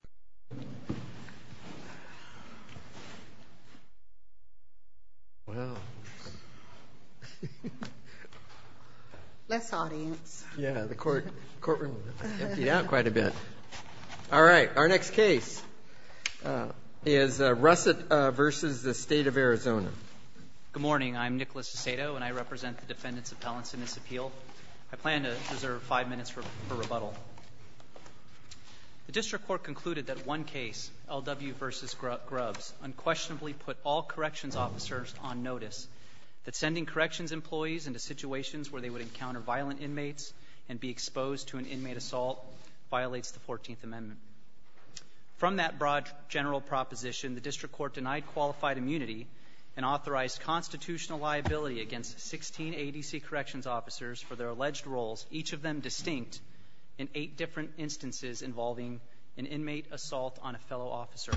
Good morning, I'm Nicholas DeSato and I represent the Defendants' Appeal. I plan to reserve five minutes for rebuttal. The District Court concluded that one case, L.W. v. Grubbs, unquestionably put all corrections officers on notice that sending corrections employees into situations where they would encounter violent inmates and be exposed to an inmate assault violates the 14th Amendment. From that broad general proposition, the District Court denied qualified immunity and authorized constitutional liability against 16 A.D.C. corrections officers for their alleged roles, each of them distinct, in eight different instances involving an inmate assault on a fellow officer.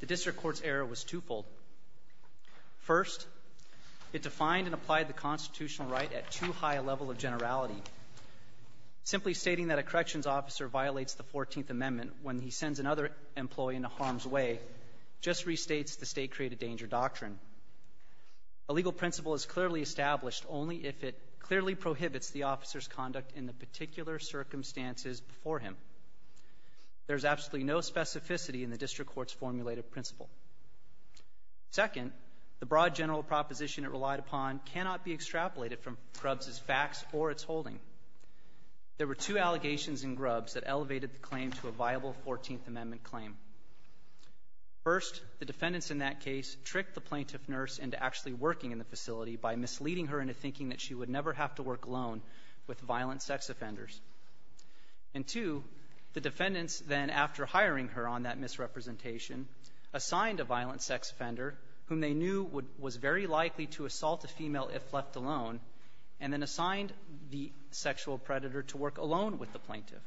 The District Court's error was twofold. First, it defined and applied the constitutional right at too high a level of generality. Simply stating that a corrections officer violates the 14th Amendment when he sends another employee into harm's way just restates the state-created danger doctrine. A legal principle is clearly established only if it clearly prohibits the officer's conduct in the particular circumstances before him. There's absolutely no specificity in the District Court's formulated principle. Second, the broad general proposition it relied upon cannot be extrapolated from Grubbs' facts or its holding. There were two allegations in Grubbs that elevated the claim to a viable 14th Amendment claim. First, the defendants in that case tricked the plaintiff nurse into actually working in the facility by misleading her into thinking that she would never have to work alone with violent sex offenders. And two, the defendants then, after hiring her on that misrepresentation, assigned a violent sex offender whom they knew was very likely to assault a female if left alone, and then assigned the sexual predator to work alone with the plaintiff.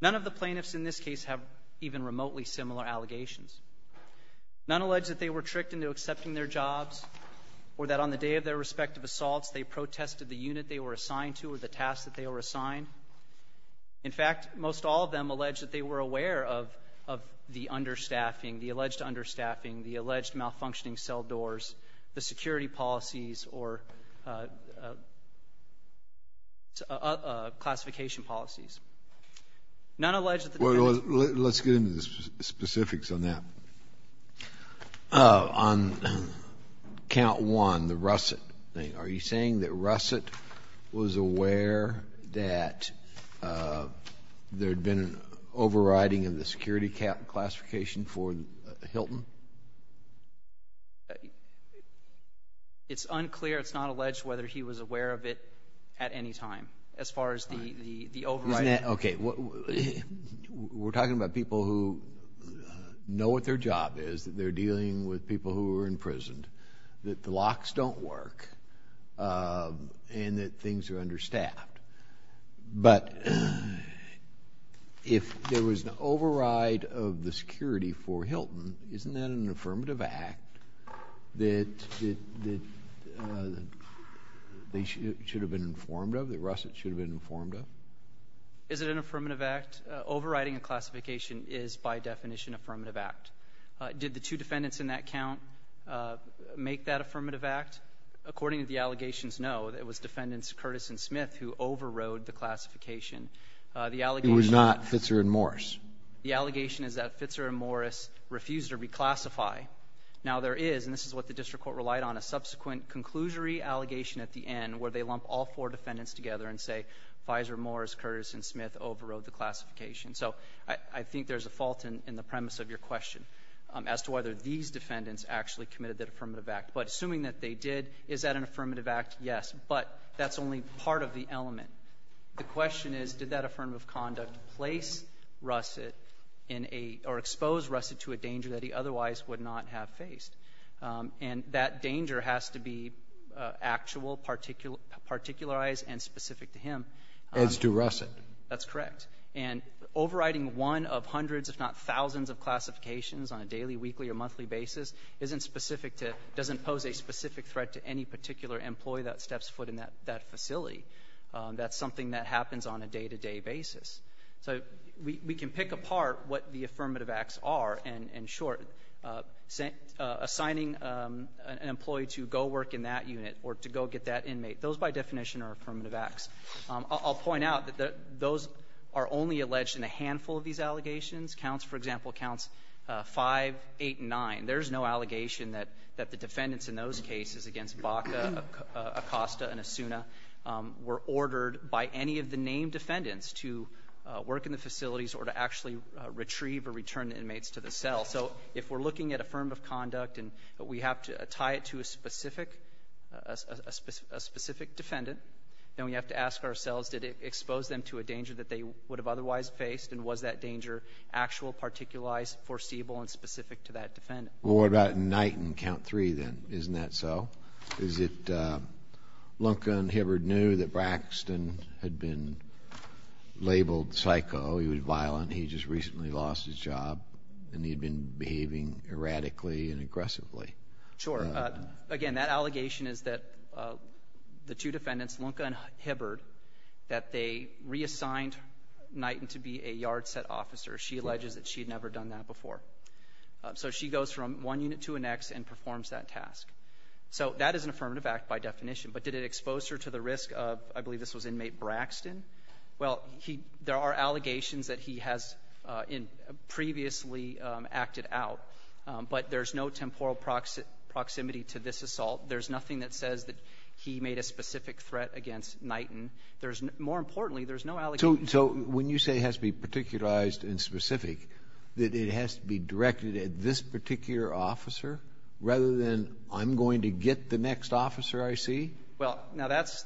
None of the plaintiffs in this case have even remotely similar allegations. None allege that they were tricked into accepting their jobs or that on the day of their respective assaults, they protested the unit they were assigned to or the task that they were assigned. In fact, most all of them allege that they were aware of the understaffing, the alleged understaffing, the alleged malfunctioning cell doors, the security policies or classification policies. None allege that the defendants ---- On count one, the Russett thing, are you saying that Russett was aware that there had been an overriding of the security classification for Hilton? It's unclear. It's not alleged whether he was aware of it at any time as far as the overriding. Isn't that ---- Okay. We're talking about people who know what their job is, that they're dealing with people who are imprisoned, that the locks don't work, and that things are understaffed. But if there was an override of the security for Hilton, isn't that an affirmative act that they should have been informed of, that Russett should have been informed of? Is it an affirmative act? Overriding a classification is, by definition, an affirmative act. Did the two defendants in that count make that affirmative act? According to the allegations, no. It was Defendants Curtis and Smith who overrode the classification. The allegation ---- It was not Fitzer and Morris. The allegation is that Fitzer and Morris refused to reclassify. Now, there is, and this is what the district court relied on, a subsequent conclusory allegation at the end where they lump all four defendants together and say, Fizer, Morris, Curtis, and Smith overrode the classification. So I think there's a fault in the premise of your question as to whether these defendants actually committed that affirmative act. But assuming that they did, is that an affirmative act? Yes. But that's only part of the element. The question is, did that affirmative conduct place Russett in a ---- or expose Russett to a danger that he otherwise would not have faced? And that danger has to be actual, particularized, and specific to him. As to Russett. That's correct. And overriding one of hundreds, if not thousands, of classifications on a daily, weekly, or monthly basis isn't specific to ---- doesn't pose a specific threat to any particular employee that steps foot in that facility. That's something that happens on a day-to-day basis. So we can pick apart what the affirmative acts are and, in short, assigning an employee to go work in that unit or to go get that inmate. Those, by definition, are affirmative acts. I'll point out that those are only alleged in a handful of these allegations. Counts, for example, Counts 5, 8, and 9. There's no allegation that the defendants in those cases against Baca, Acosta, and Asuna were ordered by any of the named defendants to work in the facilities or to actually retrieve or return the inmates to the cell. So if we're looking at affirmative conduct and we have to tie it to a specific defendant, then we have to ask ourselves, did it expose them to a danger that they would have otherwise faced, and was that danger actual, particularized, foreseeable, and specific to that defendant? Well, what about Knight and Count 3, then? Isn't that so? Is it Lunkin, Hibbard knew that Braxton had been labeled psycho, he was violent, he just recently lost his job, and he'd been behaving erratically and aggressively? Sure. Again, that allegation is that the two defendants, Lunkin and Hibbard, that they reassigned Knighton to be a yard set officer. She alleges that she had never done that before. So she goes from one unit to the next and performs that task. So that is an affirmative act by definition. But did it expose her to the risk of, I believe this was inmate Braxton? Well, there are allegations that he has previously acted out, but there's no temporal proximity to this assault. There's nothing that says that he made a specific threat against Knighton. More importantly, there's no allegation. So when you say it has to be particularized and specific, that it has to be directed at this particular officer rather than I'm going to get the next officer I see? Well, now, that's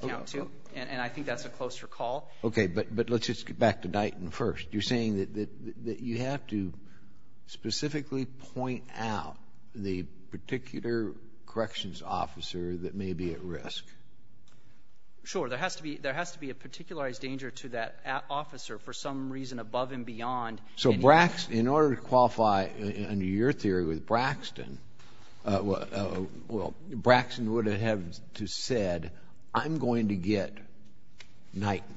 count too, and I think that's a closer call. Okay. But let's just get back to Knighton first. You're saying that you have to specifically point out the particular corrections officer that may be at risk. Sure. There has to be a particularized danger to that officer for some reason above and beyond any of the other officers. So Braxton, in order to qualify under your theory with Braxton, well, Braxton would have to have said, I'm going to get Knighton.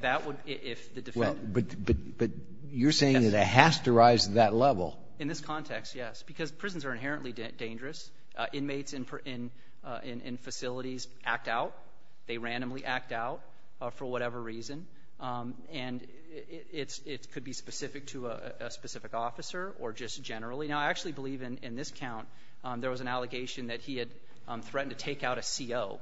That would, if the defendant Well, but you're saying that it has to rise to that level. In this context, yes, because prisons are inherently dangerous. Inmates in facilities act out. They randomly act out for whatever reason. And it's – it could be specific to a specific officer or just generally. Now, I actually believe in this count there was an allegation that he had threatened to take out a CO.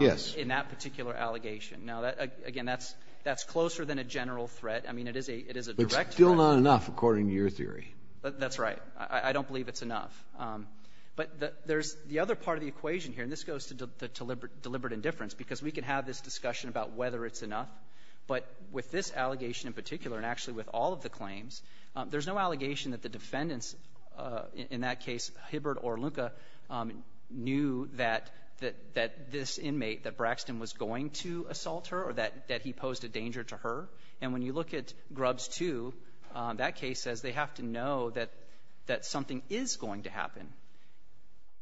Yes. In that particular allegation. Now, again, that's closer than a general threat. I mean, it is a direct threat. But it's still not enough, according to your theory. That's right. I don't believe it's enough. But there's the other part of the equation here, and this goes to the deliberate indifference, because we can have this discussion about whether it's enough. But with this allegation in particular, and actually with all of the claims, there's no allegation that the defendants, in that case, Hibbert or Luca, knew that this inmate, that Braxton was going to assault her or that he posed a danger to her. And when you look at Grubbs 2, that case says they have to know that something is going to happen,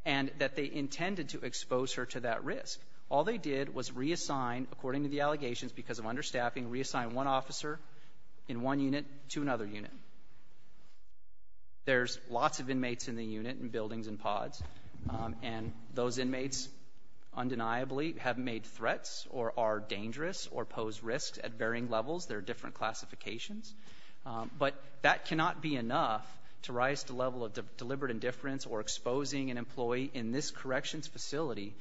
and that they intended to execute to expose her to that risk. All they did was reassign, according to the allegations, because of understaffing, reassign one officer in one unit to another unit. There's lots of inmates in the unit in buildings and pods, and those inmates, undeniably, have made threats or are dangerous or pose risks at varying levels. There are different classifications. But that cannot be enough to rise to the level of deliberate indifference or exposing an employee in this corrections facility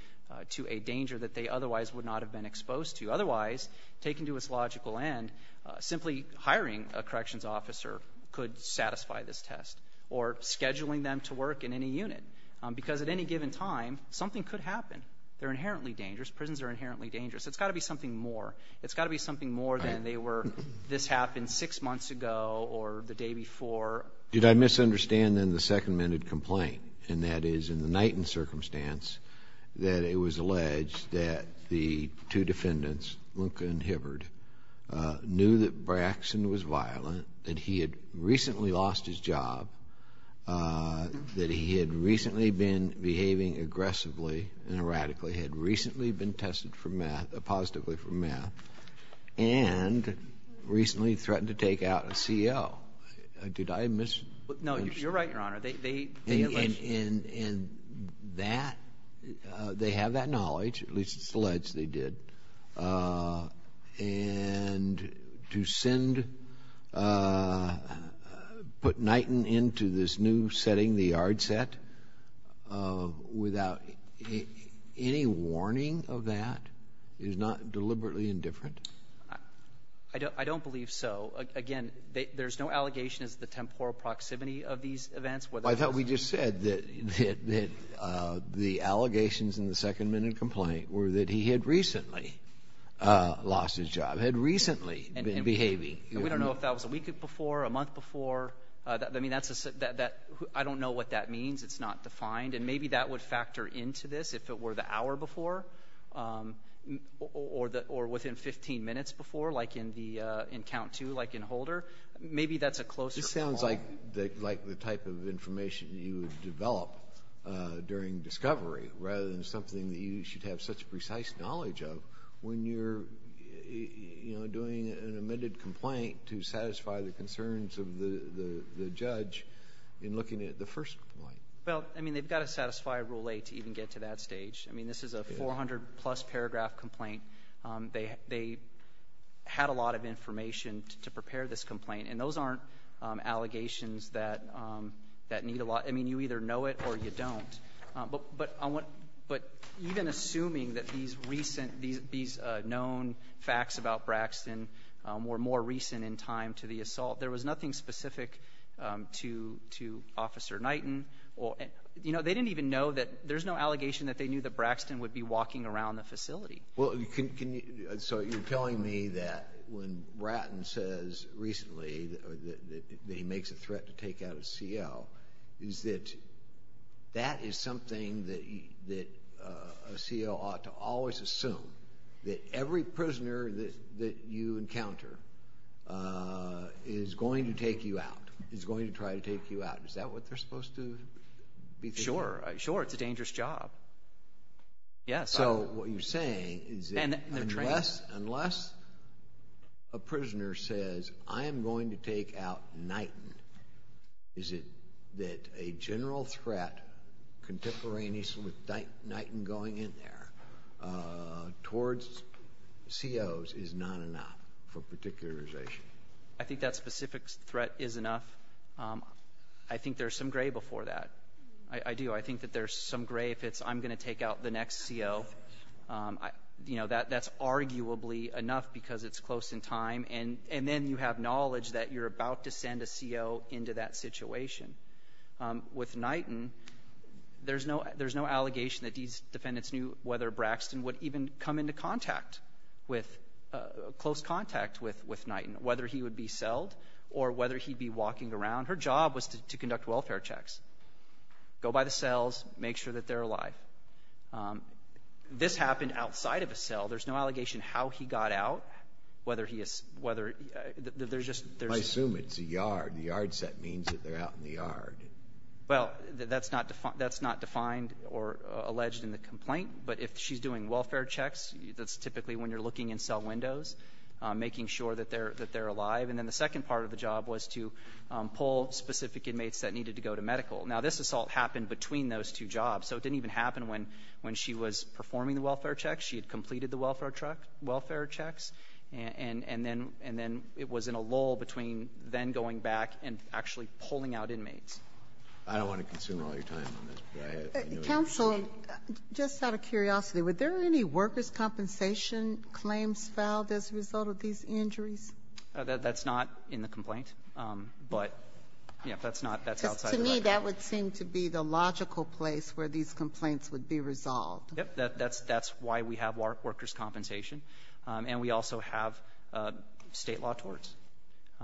to a danger that they otherwise would not have been exposed to. Otherwise, taken to its logical end, simply hiring a corrections officer could satisfy this test, or scheduling them to work in any unit. Because at any given time, something could happen. They're inherently dangerous. Prisons are inherently dangerous. It's got to be something more. It's got to be something more than they were, this happened six months ago or the day before. Did I misunderstand, then, the second-minted complaint, and that is, in the Knighton circumstance, that it was alleged that the two defendants, Luka and Hibbard, knew that Braxton was violent, that he had recently lost his job, that he had recently been behaving aggressively and erratically, had recently been tested for meth, positively for meth, and recently threatened to take out a C.E.O. Did I misunderstand? No. You're right, Your Honor. They, they alleged. And, and, and that, they have that knowledge, at least it's alleged they did, and to send, put Knighton into this new setting, the yard set, without any warning of that is not deliberately indifferent? I don't believe so. Again, there's no allegation as to the temporal proximity of these events. I thought we just said that, that the allegations in the second-minted complaint were that he had recently lost his job, had recently been behaving. And we don't know if that was a week before, a month before, I mean, that's a, that, that, I don't know what that means. It's not defined. And maybe that would factor into this, if it were the hour before, or the, or within 15 minutes before, like in the, in count two, like in Holder, maybe that's a closer call. It sounds like, like the type of information you would develop during discovery, rather than something that you should have such precise knowledge of when you're, you know, doing an amended complaint to satisfy the concerns of the, the, the judge in looking at the first complaint. Well, I mean, they've got to satisfy Rule 8 to even get to that stage. I mean, this is a 400-plus paragraph complaint. They, they had a lot of information to, to prepare this complaint. And those aren't allegations that, that need a lot, I mean, you either know it or you don't. But, but I want, but even assuming that these recent, these, these known facts about Braxton were more recent in time to the assault. There was nothing specific to, to Officer Knighton or, you know, they didn't even know that, there's no allegation that they knew that Braxton would be walking around the facility. Well, can, can you, so you're telling me that when Bratton says recently that, that, that he makes a threat to take out a CO, is that, that is something that, that a CO ought to always assume, that every prisoner that, that you encounter is going to take you out, is going to try to take you out. Is that what they're supposed to be thinking? Sure. Sure, it's a dangerous job. Yes. So what you're saying is that unless, unless a prisoner says, I am going to take out Knighton, is it that a general threat contemporaneous with Knighton going in there, towards COs is not enough for particularization? I think that specific threat is enough. I think there's some gray before that. I, I do. I think that there's some gray if it's, I'm going to take out the next CO. You know, that, that's arguably enough because it's close in time and, and then you have knowledge that you're about to send a CO into that situation. With Knighton, there's no, there's no allegation that these defendants knew whether Braxton would even come into contact with, close contact with, with Knighton, whether he would be selled or whether he'd be walking around. Her job was to, to conduct welfare checks. Go by the cells, make sure that they're alive. This happened outside of a cell. There's no allegation how he got out. Whether he is, whether, there's just, there's. I assume it's a yard. The yard set means that they're out in the yard. Well, that's not defined, that's not defined or alleged in the complaint. But if she's doing welfare checks, that's typically when you're looking in cell windows, making sure that they're, that they're alive. And then the second part of the job was to pull specific inmates that needed to go to medical. Now, this assault happened between those two jobs, so it didn't even happen when, when she was performing the welfare checks. She had completed the welfare truck, welfare checks, and, and then, and then it was in a lull between then going back and actually pulling out inmates. I don't want to consume all your time on this, but go ahead. Counsel, just out of curiosity, were there any workers' compensation claims filed as a result of these injuries? That's not in the complaint, but, yeah, that's not, that's outside of the complaint. Because to me, that would seem to be the logical place where these complaints would be resolved. Yep. That's, that's why we have workers' compensation. And we also have State law torts.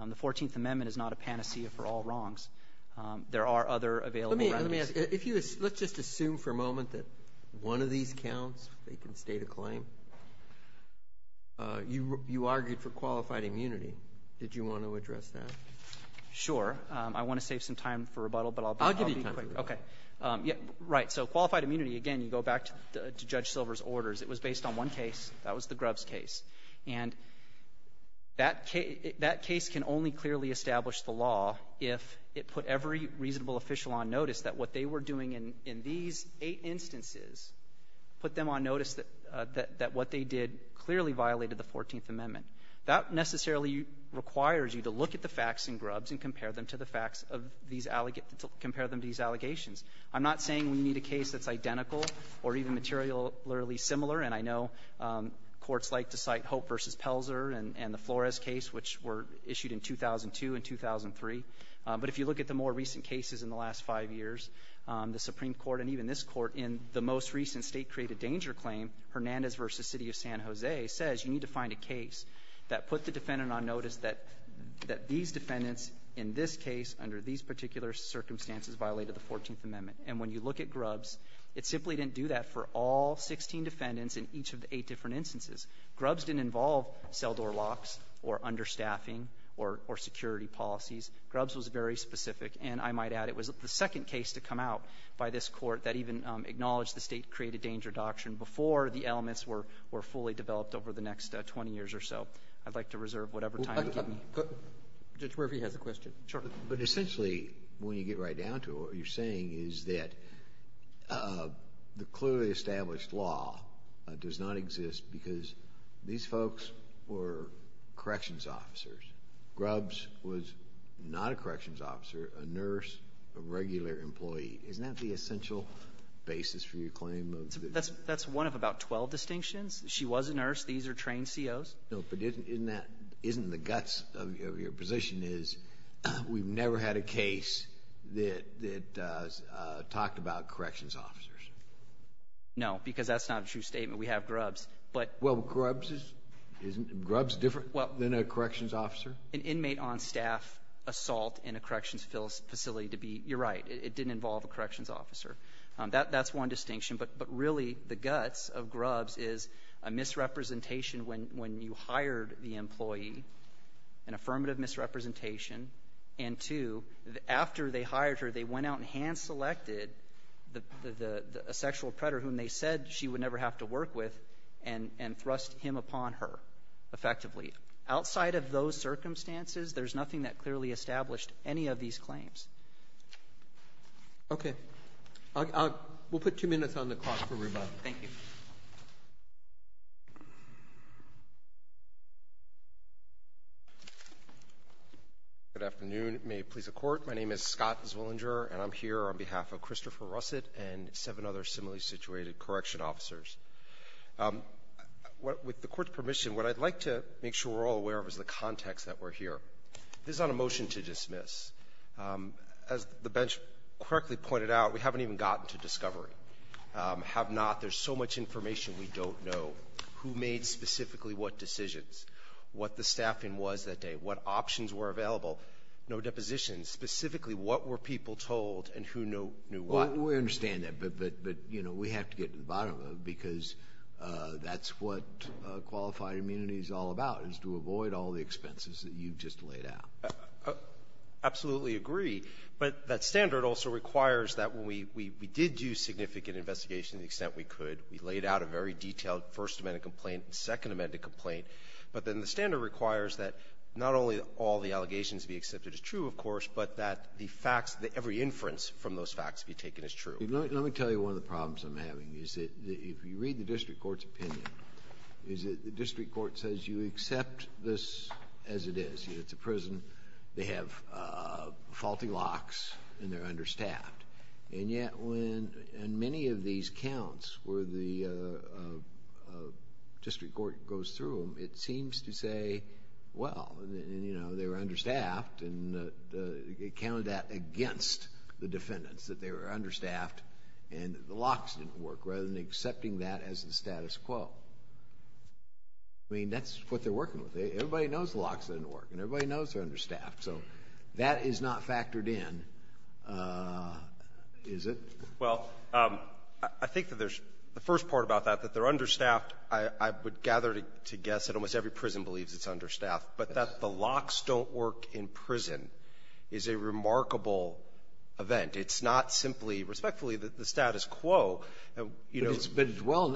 The Fourteenth Amendment is not a panacea for all wrongs. There are other available remedies. Let me ask, if you, let's just assume for a moment that one of these counts, they can state a claim. You, you argued for qualified immunity. Did you want to address that? Sure. I want to save some time for rebuttal, but I'll be quick. I'll give you time for rebuttal. Okay. Yeah, right. So qualified immunity, again, you go back to, to Judge Silver's orders. It was based on one case. That was the Grubbs case. And that case, that case can only clearly establish the law if it put every reasonable official on notice that what they were doing in, in these eight instances put them on notice that, that what they did clearly violated the Fourteenth Amendment. That necessarily requires you to look at the facts in Grubbs and compare them to the facts of these, compare them to these allegations. I'm not saying we need a case that's identical or even materially similar. And I know courts like to cite Hope v. Pelzer and, and the Flores case, which were issued in 2002 and 2003. But if you look at the more recent cases in the last five years, the Supreme Court and even this court in the most recent state created danger claim, Hernandez v. City of San Jose, says you need to find a case that put the defendant on notice that, that these defendants in this case under these particular circumstances violated the Fourteenth Amendment. And when you look at Grubbs, it simply didn't do that for all 16 defendants in each of the eight different instances. Grubbs didn't involve cell door locks or understaffing or, or security policies. Grubbs was very specific. And I might add, it was the second case to come out by this court that even acknowledged the state created danger doctrine before the elements were, were fully developed over the next 20 years or so. I'd like to reserve whatever time you give me. Judge Murphy has a question. Sure. But essentially, when you get right down to it, what you're saying is that the clearly established law does not exist because these folks were corrections officers. Grubbs was not a corrections officer, a nurse, a regular employee. Isn't that the essential basis for your claim? That's, that's one of about 12 distinctions. She was a nurse. These are trained COs. No, but isn't, isn't that, isn't the guts of your position is we've never had a case that, that talked about corrections officers. No, because that's not a true statement. We have Grubbs, but. Well, Grubbs is, isn't Grubbs different than a corrections officer? An inmate on staff assault in a corrections facility to be, you're right, it didn't involve a corrections officer. That, that's one distinction. But, but really the guts of Grubbs is a misrepresentation when, when you hired the employee, an affirmative misrepresentation. And two, after they hired her, they went out and hand selected the, the, the, a sexual predator whom they said she would never have to work with. And, and thrust him upon her effectively. Outside of those circumstances, there's nothing that clearly established any of these claims. I'll, I'll, we'll put two minutes on the clock for rebuttal. Thank you. Good afternoon. May it please the court. My name is Scott Zwillinger and I'm here on behalf of Christopher Russett and seven other similarly situated correction officers. What, with the court's permission, what I'd like to make sure we're all aware of is the context that we're here. This is not a motion to dismiss. As the bench correctly pointed out, we haven't even gotten to discovery. Have not. There's so much information we don't know. Who made specifically what decisions? What the staffing was that day? What options were available? No depositions. Specifically, what were people told and who knew what? We understand that. But, but, but, you know, we have to get to the bottom of it because that's what qualified immunity is all about is to avoid all the expenses that you've just laid out. Absolutely agree. But that standard also requires that when we, we, we did do significant investigation, the extent we could, we laid out a very detailed first amendment complaint and second amendment complaint. But then the standard requires that not only all the allegations be accepted as true, of course, but that the facts that every inference from those facts be taken as true. Let me tell you one of the problems I'm having is that if you read the district court's opinion, is that the district court says you accept this as it is. It's a prison. They have faulty locks and they're understaffed. And yet when, in many of these counts where the district court goes through them, it seems to say, well, you know, they were understaffed. And it counted that against the defendants, that they were understaffed and the locks didn't work, rather than accepting that as the status quo. I mean, that's what they're working with. Everybody knows the locks didn't work and everybody knows they're understaffed. So that is not factored in, is it? Well, I think that there's the first part about that, that they're understaffed. I would gather to guess that almost every prison believes it's understaffed, but that the locks don't work in prison is a remarkable event. It's not simply, respectfully, the status quo, you know. But as well,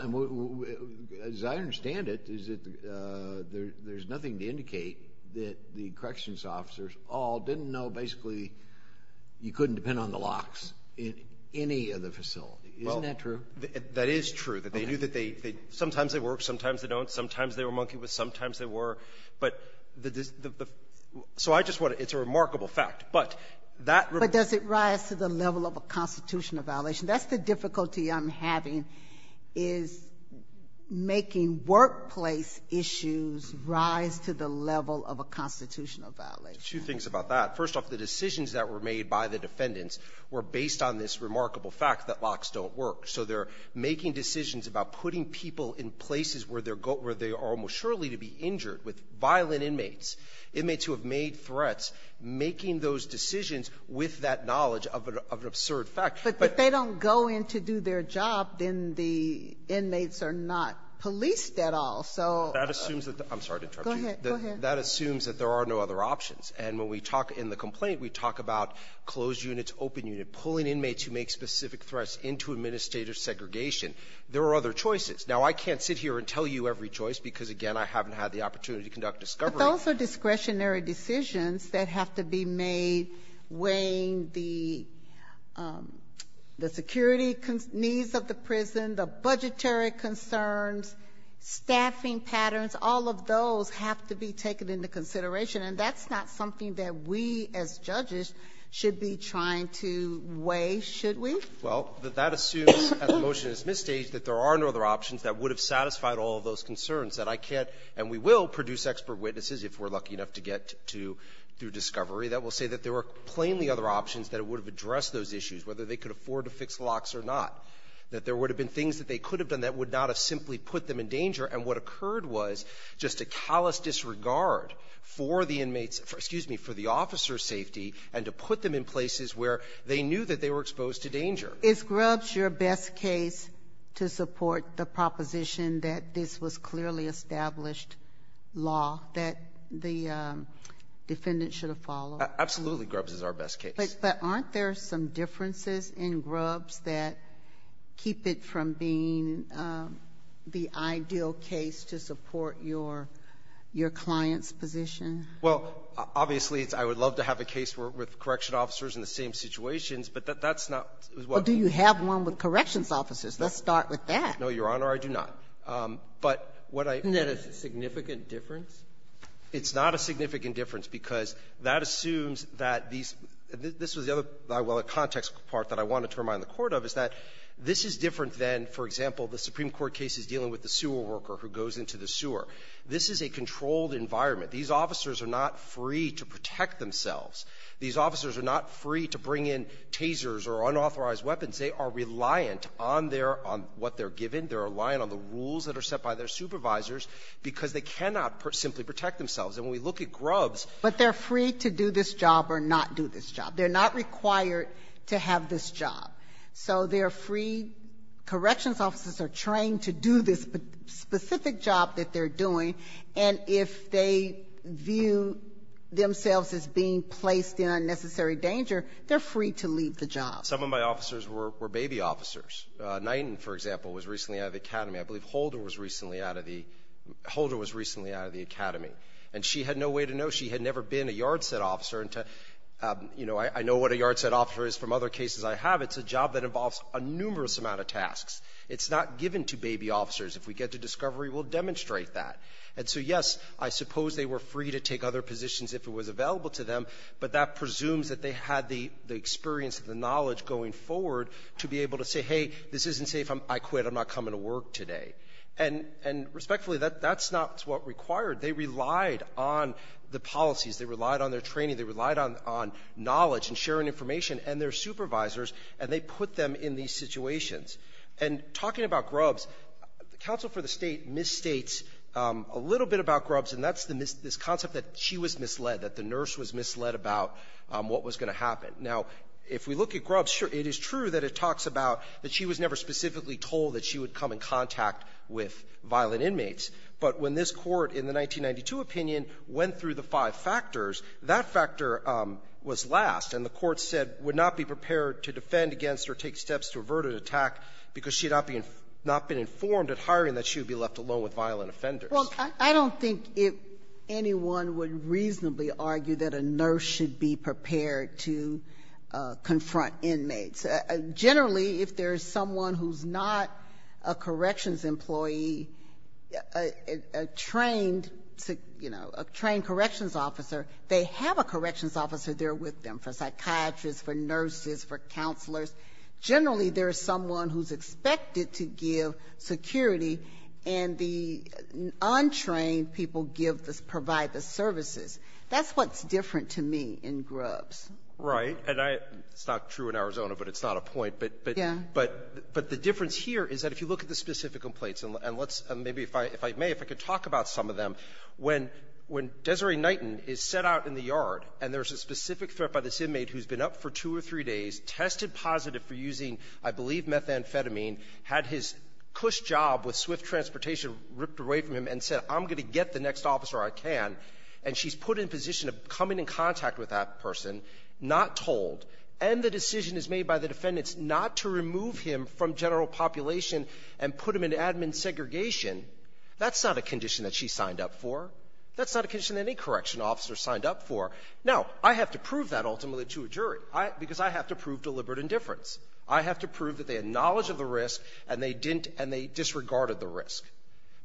as I understand it, is that there's nothing to indicate that the corrections officers all didn't know, basically, you couldn't depend on the locks in any of the facility. Isn't that true? That is true. That they knew that they — sometimes they work, sometimes they don't, sometimes they were monkey with, sometimes they were. But the — so I just want to — it's a remarkable fact. But that — But does it rise to the level of a constitutional violation? That's the difficulty I'm having, is making workplace issues rise to the level of a constitutional violation. Two things about that. First off, the decisions that were made by the defendants were based on this remarkable fact that locks don't work. So they're making decisions about putting people in places where they're — where they are almost surely to be injured with violent inmates, inmates who have made threats, making those decisions with that knowledge of an absurd fact. But — But if they don't go in to do their job, then the inmates are not policed at all. So — That assumes that — I'm sorry to interrupt you. Go ahead. Go ahead. That assumes that there are no other options. And when we talk in the complaint, we talk about closed units, open unit, pulling inmates who make specific threats into administrative segregation. There are other choices. Now, I can't sit here and tell you every choice because, again, I haven't had the opportunity to conduct discovery. But those are discretionary decisions that have to be made weighing the security needs of the prison, the budgetary concerns, staffing patterns. All of those have to be taken into consideration. And that's not something that we, as judges, should be trying to weigh, should we? Well, that assumes, as the motion is misstaged, that there are no other options that would have satisfied all of those concerns, that I can't — and we will produce expert witnesses if we're lucky enough to get to — through discovery that will say that there were plainly other options that would have addressed those issues, whether they could afford to fix locks or not, that there would have been things that they could have done that would not have simply put them in danger. And what occurred was just a callous disregard for the inmates — excuse me, for the officer's safety and to put them in places where they knew that they were exposed to danger. Is Grubbs your best case to support the proposition that this was clearly established law that the defendant should have followed? Absolutely, Grubbs is our best case. But aren't there some differences in Grubbs that keep it from being the ideal case to support your client's position? Well, obviously, I would love to have a case with correction officers in the same situations, but that's not what — Well, do you have one with corrections officers? Let's start with that. No, Your Honor, I do not. But what I — Isn't that a significant difference? It's not a significant difference, because that assumes that these — this was the other, well, the context part that I wanted to remind the Court of, is that this is different than, for example, the Supreme Court cases dealing with the sewer worker who goes into the sewer. This is a controlled environment. These officers are not free to protect themselves. These officers are not free to bring in tasers or unauthorized weapons. They are reliant on their — on what they're given. They're reliant on the rules that are set by their supervisors because they cannot simply protect themselves. And when we look at Grubbs — But they're free to do this job or not do this job. They're not required to have this job. So they're free — corrections officers are trained to do this specific job that they're doing. And if they view themselves as being placed in unnecessary danger, they're free to leave the job. Some of my officers were baby officers. Knighton, for example, was recently out of the academy. I believe Holder was recently out of the — Holder was recently out of the academy. And she had no way to know. She had never been a yard set officer. And, you know, I know what a yard set officer is from other cases I have. It's a job that involves a numerous amount of tasks. It's not given to baby officers. If we get to discovery, we'll demonstrate that. And so, yes, I suppose they were free to take other positions if it was available to them, but that presumes that they had the experience and the knowledge going forward to be able to say, hey, this isn't safe. I quit. I'm not coming to work today. And respectfully, that's not what required. They relied on the policies. They relied on their training. They relied on knowledge and sharing information and their supervisors. And they put them in these situations. And talking about Grubbs, the counsel for the State misstates a little bit about Grubbs, and that's this concept that she was misled, that the nurse was misled about what was going to happen. Now, if we look at Grubbs, sure, it is true that it talks about that she was never specifically told that she would come in contact with violent inmates. But when this Court in the 1992 opinion went through the five factors, that factor was last. And the Court said, would not be prepared to defend against or take steps to avert an attack because she had not been informed at hiring that she would be left alone with violent offenders. Well, I don't think anyone would reasonably argue that a nurse should be prepared to confront inmates. Generally, if there's someone who's not a corrections employee, a trained, you know, a trained corrections officer, they have a corrections officer there with them for Generally, there's someone who's expected to give security, and the untrained people give the — provide the services. That's what's different to me in Grubbs. Right. And I — it's not true in Arizona, but it's not a point. But the difference here is that if you look at the specific complaints, and let's — maybe if I — if I may, if I could talk about some of them. When Desiree Knighton is set out in the yard, and there's a specific threat by this for using, I believe, methamphetamine, had his cush job with Swift Transportation ripped away from him and said, I'm going to get the next officer I can, and she's put in position of coming in contact with that person, not told, and the decision is made by the defendants not to remove him from general population and put him in admin segregation, that's not a condition that she signed up for. That's not a condition that any correction officer signed up for. Now, I have to prove that ultimately to a jury, because I have to prove deliberate indifference. I have to prove that they had knowledge of the risk, and they didn't — and they disregarded the risk.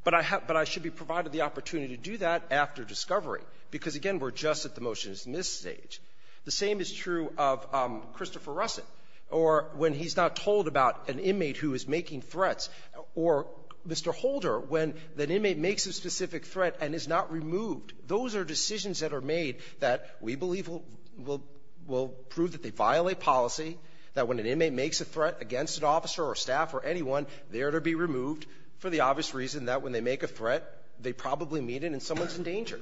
But I have — but I should be provided the opportunity to do that after discovery, because, again, we're just at the motion-to-dismiss stage. The same is true of Christopher Russett, or when he's not told about an inmate who is making threats, or Mr. Holder, when that inmate makes a specific threat and is not removed. Those are decisions that are made that we believe will — will prove that they violate policy, that when an inmate makes a threat against an officer or staff or anyone, they are to be removed for the obvious reason that when they make a threat, they probably mean it and someone's in danger.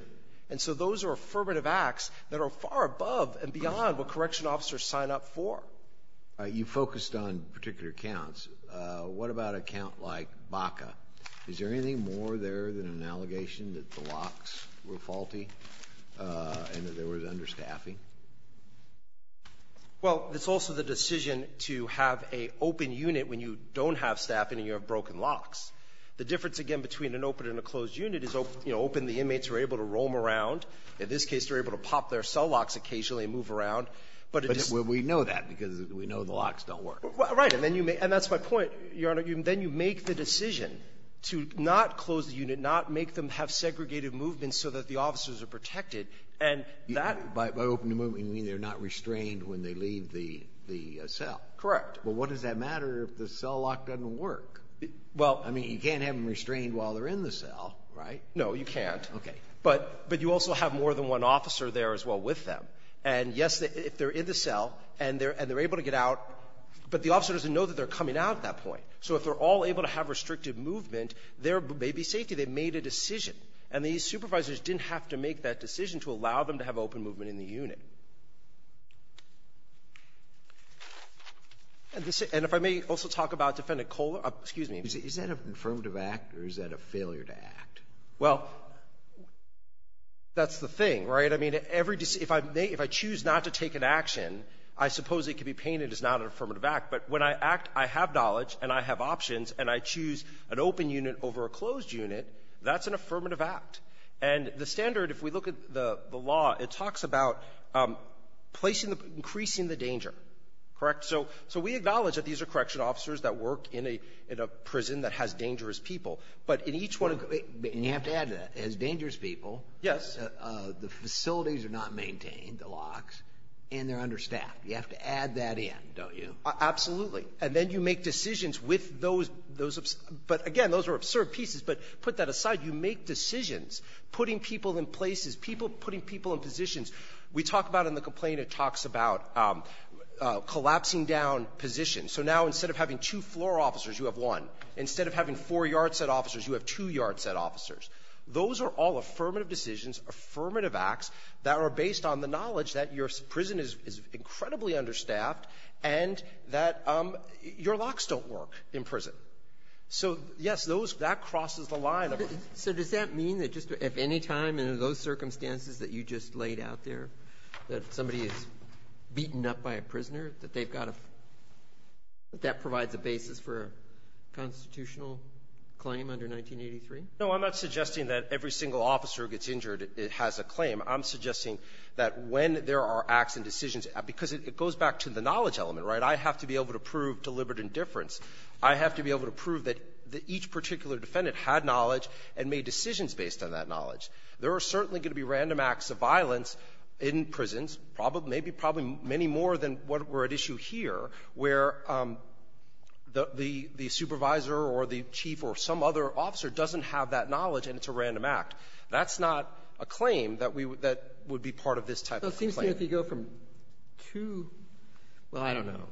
And so those are affirmative acts that are far above and beyond what correction officers sign up for. You focused on particular counts. What about a count like Baca? Is there anything more there than an allegation that the locks were faulty and that there was understaffing? Well, it's also the decision to have an open unit when you don't have staffing and you have broken locks. The difference, again, between an open and a closed unit is, you know, open, the inmates are able to roam around. In this case, they're able to pop their cell locks occasionally and move around, but it just — But we know that because we know the locks don't work. Right. And then you make — and that's my point, Your Honor. Then you make the decision to not close the unit, not make them have segregated movements so that the officers are protected, and that — By open movement, you mean they're not restrained when they leave the cell. Correct. Well, what does that matter if the cell lock doesn't work? Well — I mean, you can't have them restrained while they're in the cell, right? No, you can't. Okay. But you also have more than one officer there as well with them. And, yes, if they're in the cell and they're able to get out, but the officer doesn't know that they're coming out at that point. So if they're all able to have restricted movement, there may be safety. They made a decision. And these supervisors didn't have to make that decision to allow them to have open movement in the unit. And if I may also talk about Defendant Kohler — excuse me. Is that an affirmative act, or is that a failure to act? Well, that's the thing, right? I mean, every — if I choose not to take an action, I suppose it could be painted as not an affirmative act. But when I act, I have knowledge and I have options, and I choose an open unit over a closed unit, that's an affirmative act. And the standard, if we look at the law, it talks about placing the — increasing the danger, correct? So we acknowledge that these are correction officers that work in a prison that has dangerous people. But in each one of — And you have to add to that. It has dangerous people. Yes. The facilities are not maintained, the locks, and they're understaffed. You have to add that in, don't you? Absolutely. And then you make decisions with those — those — but again, those are absurd pieces, but put that aside. You make decisions, putting people in places, people — putting people in positions. We talk about in the complaint, it talks about collapsing down positions. So now instead of having two floor officers, you have one. Instead of having four-yard set officers, you have two-yard set officers. Those are all affirmative decisions, affirmative acts that are based on the knowledge that your prison is incredibly understaffed and that your locks don't work in prison. So, yes, those — that crosses the line of a — So does that mean that just if any time in those circumstances that you just laid out there, that somebody is beaten up by a prisoner, that they've got a — that provides a basis for a constitutional claim under 1983? No. I'm not suggesting that every single officer who gets injured has a claim. I'm suggesting that when there are acts and decisions, because it goes back to the knowledge element, right? I have to be able to prove deliberate indifference. I have to be able to prove that each particular defendant had knowledge and made decisions based on that knowledge. There are certainly going to be random acts of violence in prisons, probably — maybe probably many more than what we're at issue here, where the supervisor or the chief or some other officer doesn't have that knowledge and it's a random act. That's not a claim that we — that would be part of this type of claim. So it seems to me if you go from two — well, I don't know.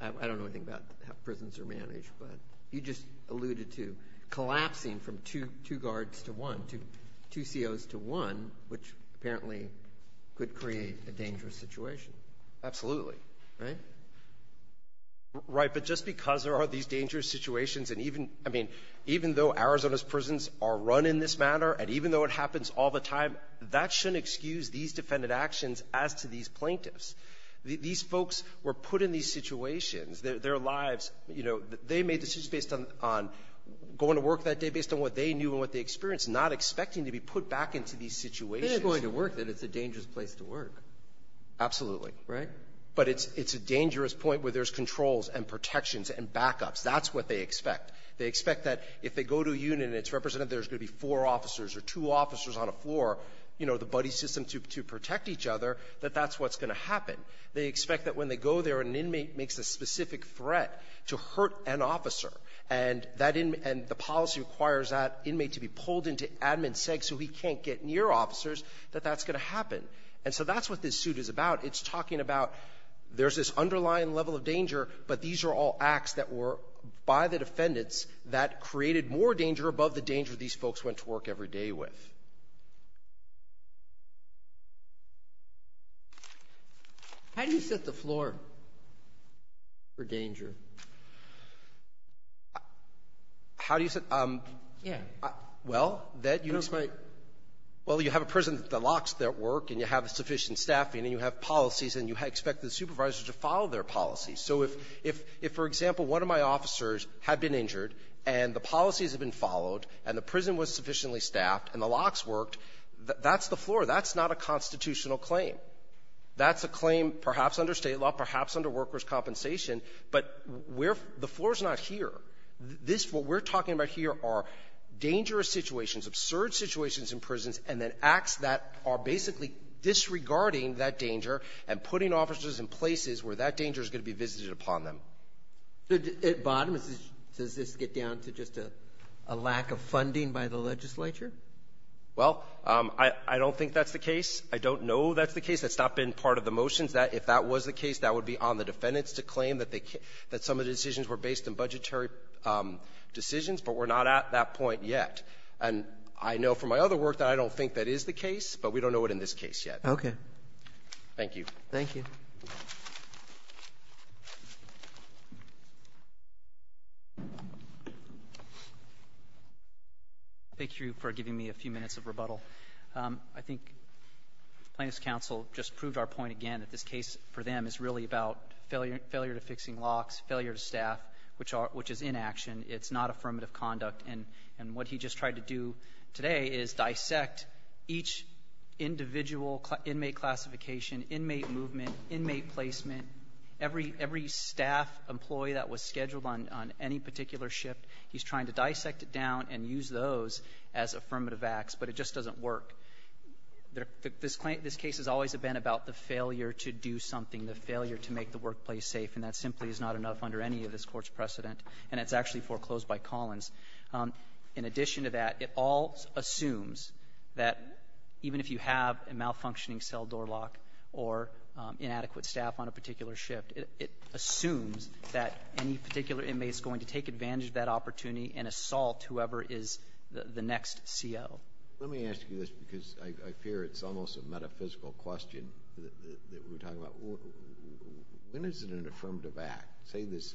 I don't know anything about how prisons are managed, but you just alluded to collapsing from two — two guards to one, two COs to one, which apparently could create a dangerous situation. Absolutely. Right? Right. But just because there are these dangerous situations, and even — I mean, even though Arizona's prisons are run in this manner, and even though it happens all the time, that shouldn't excuse these defendant actions as to these plaintiffs. These folks were put in these situations. Their lives, you know, they made decisions based on — on going to work that day based on what they knew and what they experienced, not expecting to be put back into these situations. They're going to work, then. It's a dangerous place to work. Absolutely. Right? But it's — it's a dangerous point where there's controls and protections and backups. That's what they expect. They expect that if they go to a unit and it's represented, there's going to be four officers or two officers on a floor, you know, the buddy system to — to protect each other, that that's what's going to happen. They expect that when they go there, an inmate makes a specific threat to hurt an officer, and that in — and the policy requires that inmate to be pulled into admin sec so he can't get near officers, that that's going to happen. And so that's what this suit is about. It's talking about there's this underlying level of danger, but these are all acts that were, by the defendants, that created more danger above the danger these folks went to work every day with. How do you set the floor for danger? How do you set — Yeah. Well, that you — Well, you have a prison that locks their work, and you have sufficient staffing, and you have policies, and you expect the supervisors to follow their policies. So if — if, for example, one of my officers had been injured, and the policies had been followed, and the prison was sufficiently staffed, and the locks worked, that's the floor. That's not a constitutional claim. That's a claim perhaps under State law, perhaps under workers' compensation, but we're — the floor's not here. This — what we're talking about here are dangerous situations, absurd situations in prisons, and then acts that are basically disregarding that danger and putting officers in places where that danger is going to be visited upon them. So at bottom, does this get down to just a lack of funding by the legislature? Well, I don't think that's the case. I don't know that's the case. That's not been part of the motions. That — if that was the case, that would be on the defendants to claim that they — that some of the decisions were based on budgetary decisions, but we're not at that point yet. And I know from my other work that I don't think that is the case, but we don't know it in this case yet. Okay. Thank you. Thank you. Thank you for giving me a few minutes of rebuttal. I think Plaintiff's counsel just proved our point again that this case for them is really about failure to fixing locks, failure to staff, which are — which is inaction. It's not affirmative conduct. And what he just tried to do today is dissect each individual inmate classification, inmate movement, inmate placement. Every — every staff employee that was scheduled on any particular shift, he's trying to dissect it down and use those as affirmative acts, but it just doesn't work. This case has always been about the failure to do something, the failure to make the workplace safe, and that simply is not enough under any of this Court's precedent, and it's actually foreclosed by Collins. In addition to that, it all assumes that even if you have a malfunctioning cell door lock or inadequate staff on a particular shift, it assumes that any particular inmate is going to take advantage of that opportunity and assault whoever is the next CO. Let me ask you this, because I fear it's almost a metaphysical question that we're talking about. When is it an affirmative act, say, this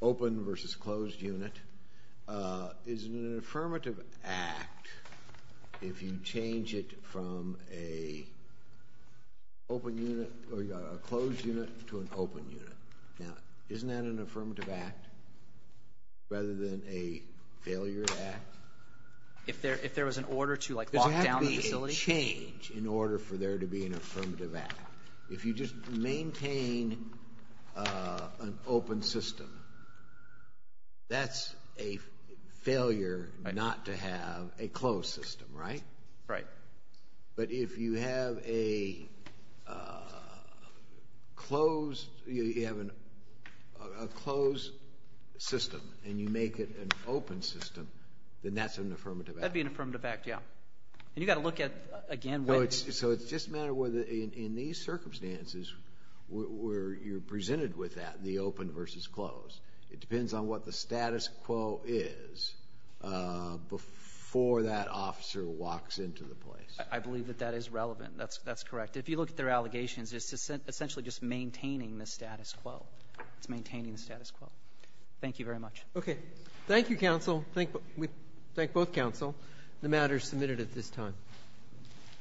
open versus closed unit? Is it an affirmative act if you change it from a closed unit to an open unit? Now, isn't that an affirmative act rather than a failure act? If there was an order to, like, lock down a facility? Doesn't that have to be a change in order for there to be an affirmative act? If you just maintain an open system, that's a failure not to have a closed system, right? Right. But if you have a closed system and you make it an open system, then that's an affirmative act. That'd be an affirmative act, yeah. And you've got to look at, again, what — So it's just a matter of whether, in these circumstances where you're presented with that, the open versus closed, it depends on what the status quo is before that officer walks into the place. I believe that that is relevant. That's correct. If you look at their allegations, it's essentially just maintaining the status quo. It's maintaining the status quo. Thank you very much. Okay. Thank you, counsel. We thank both counsel. The matter is submitted at this time.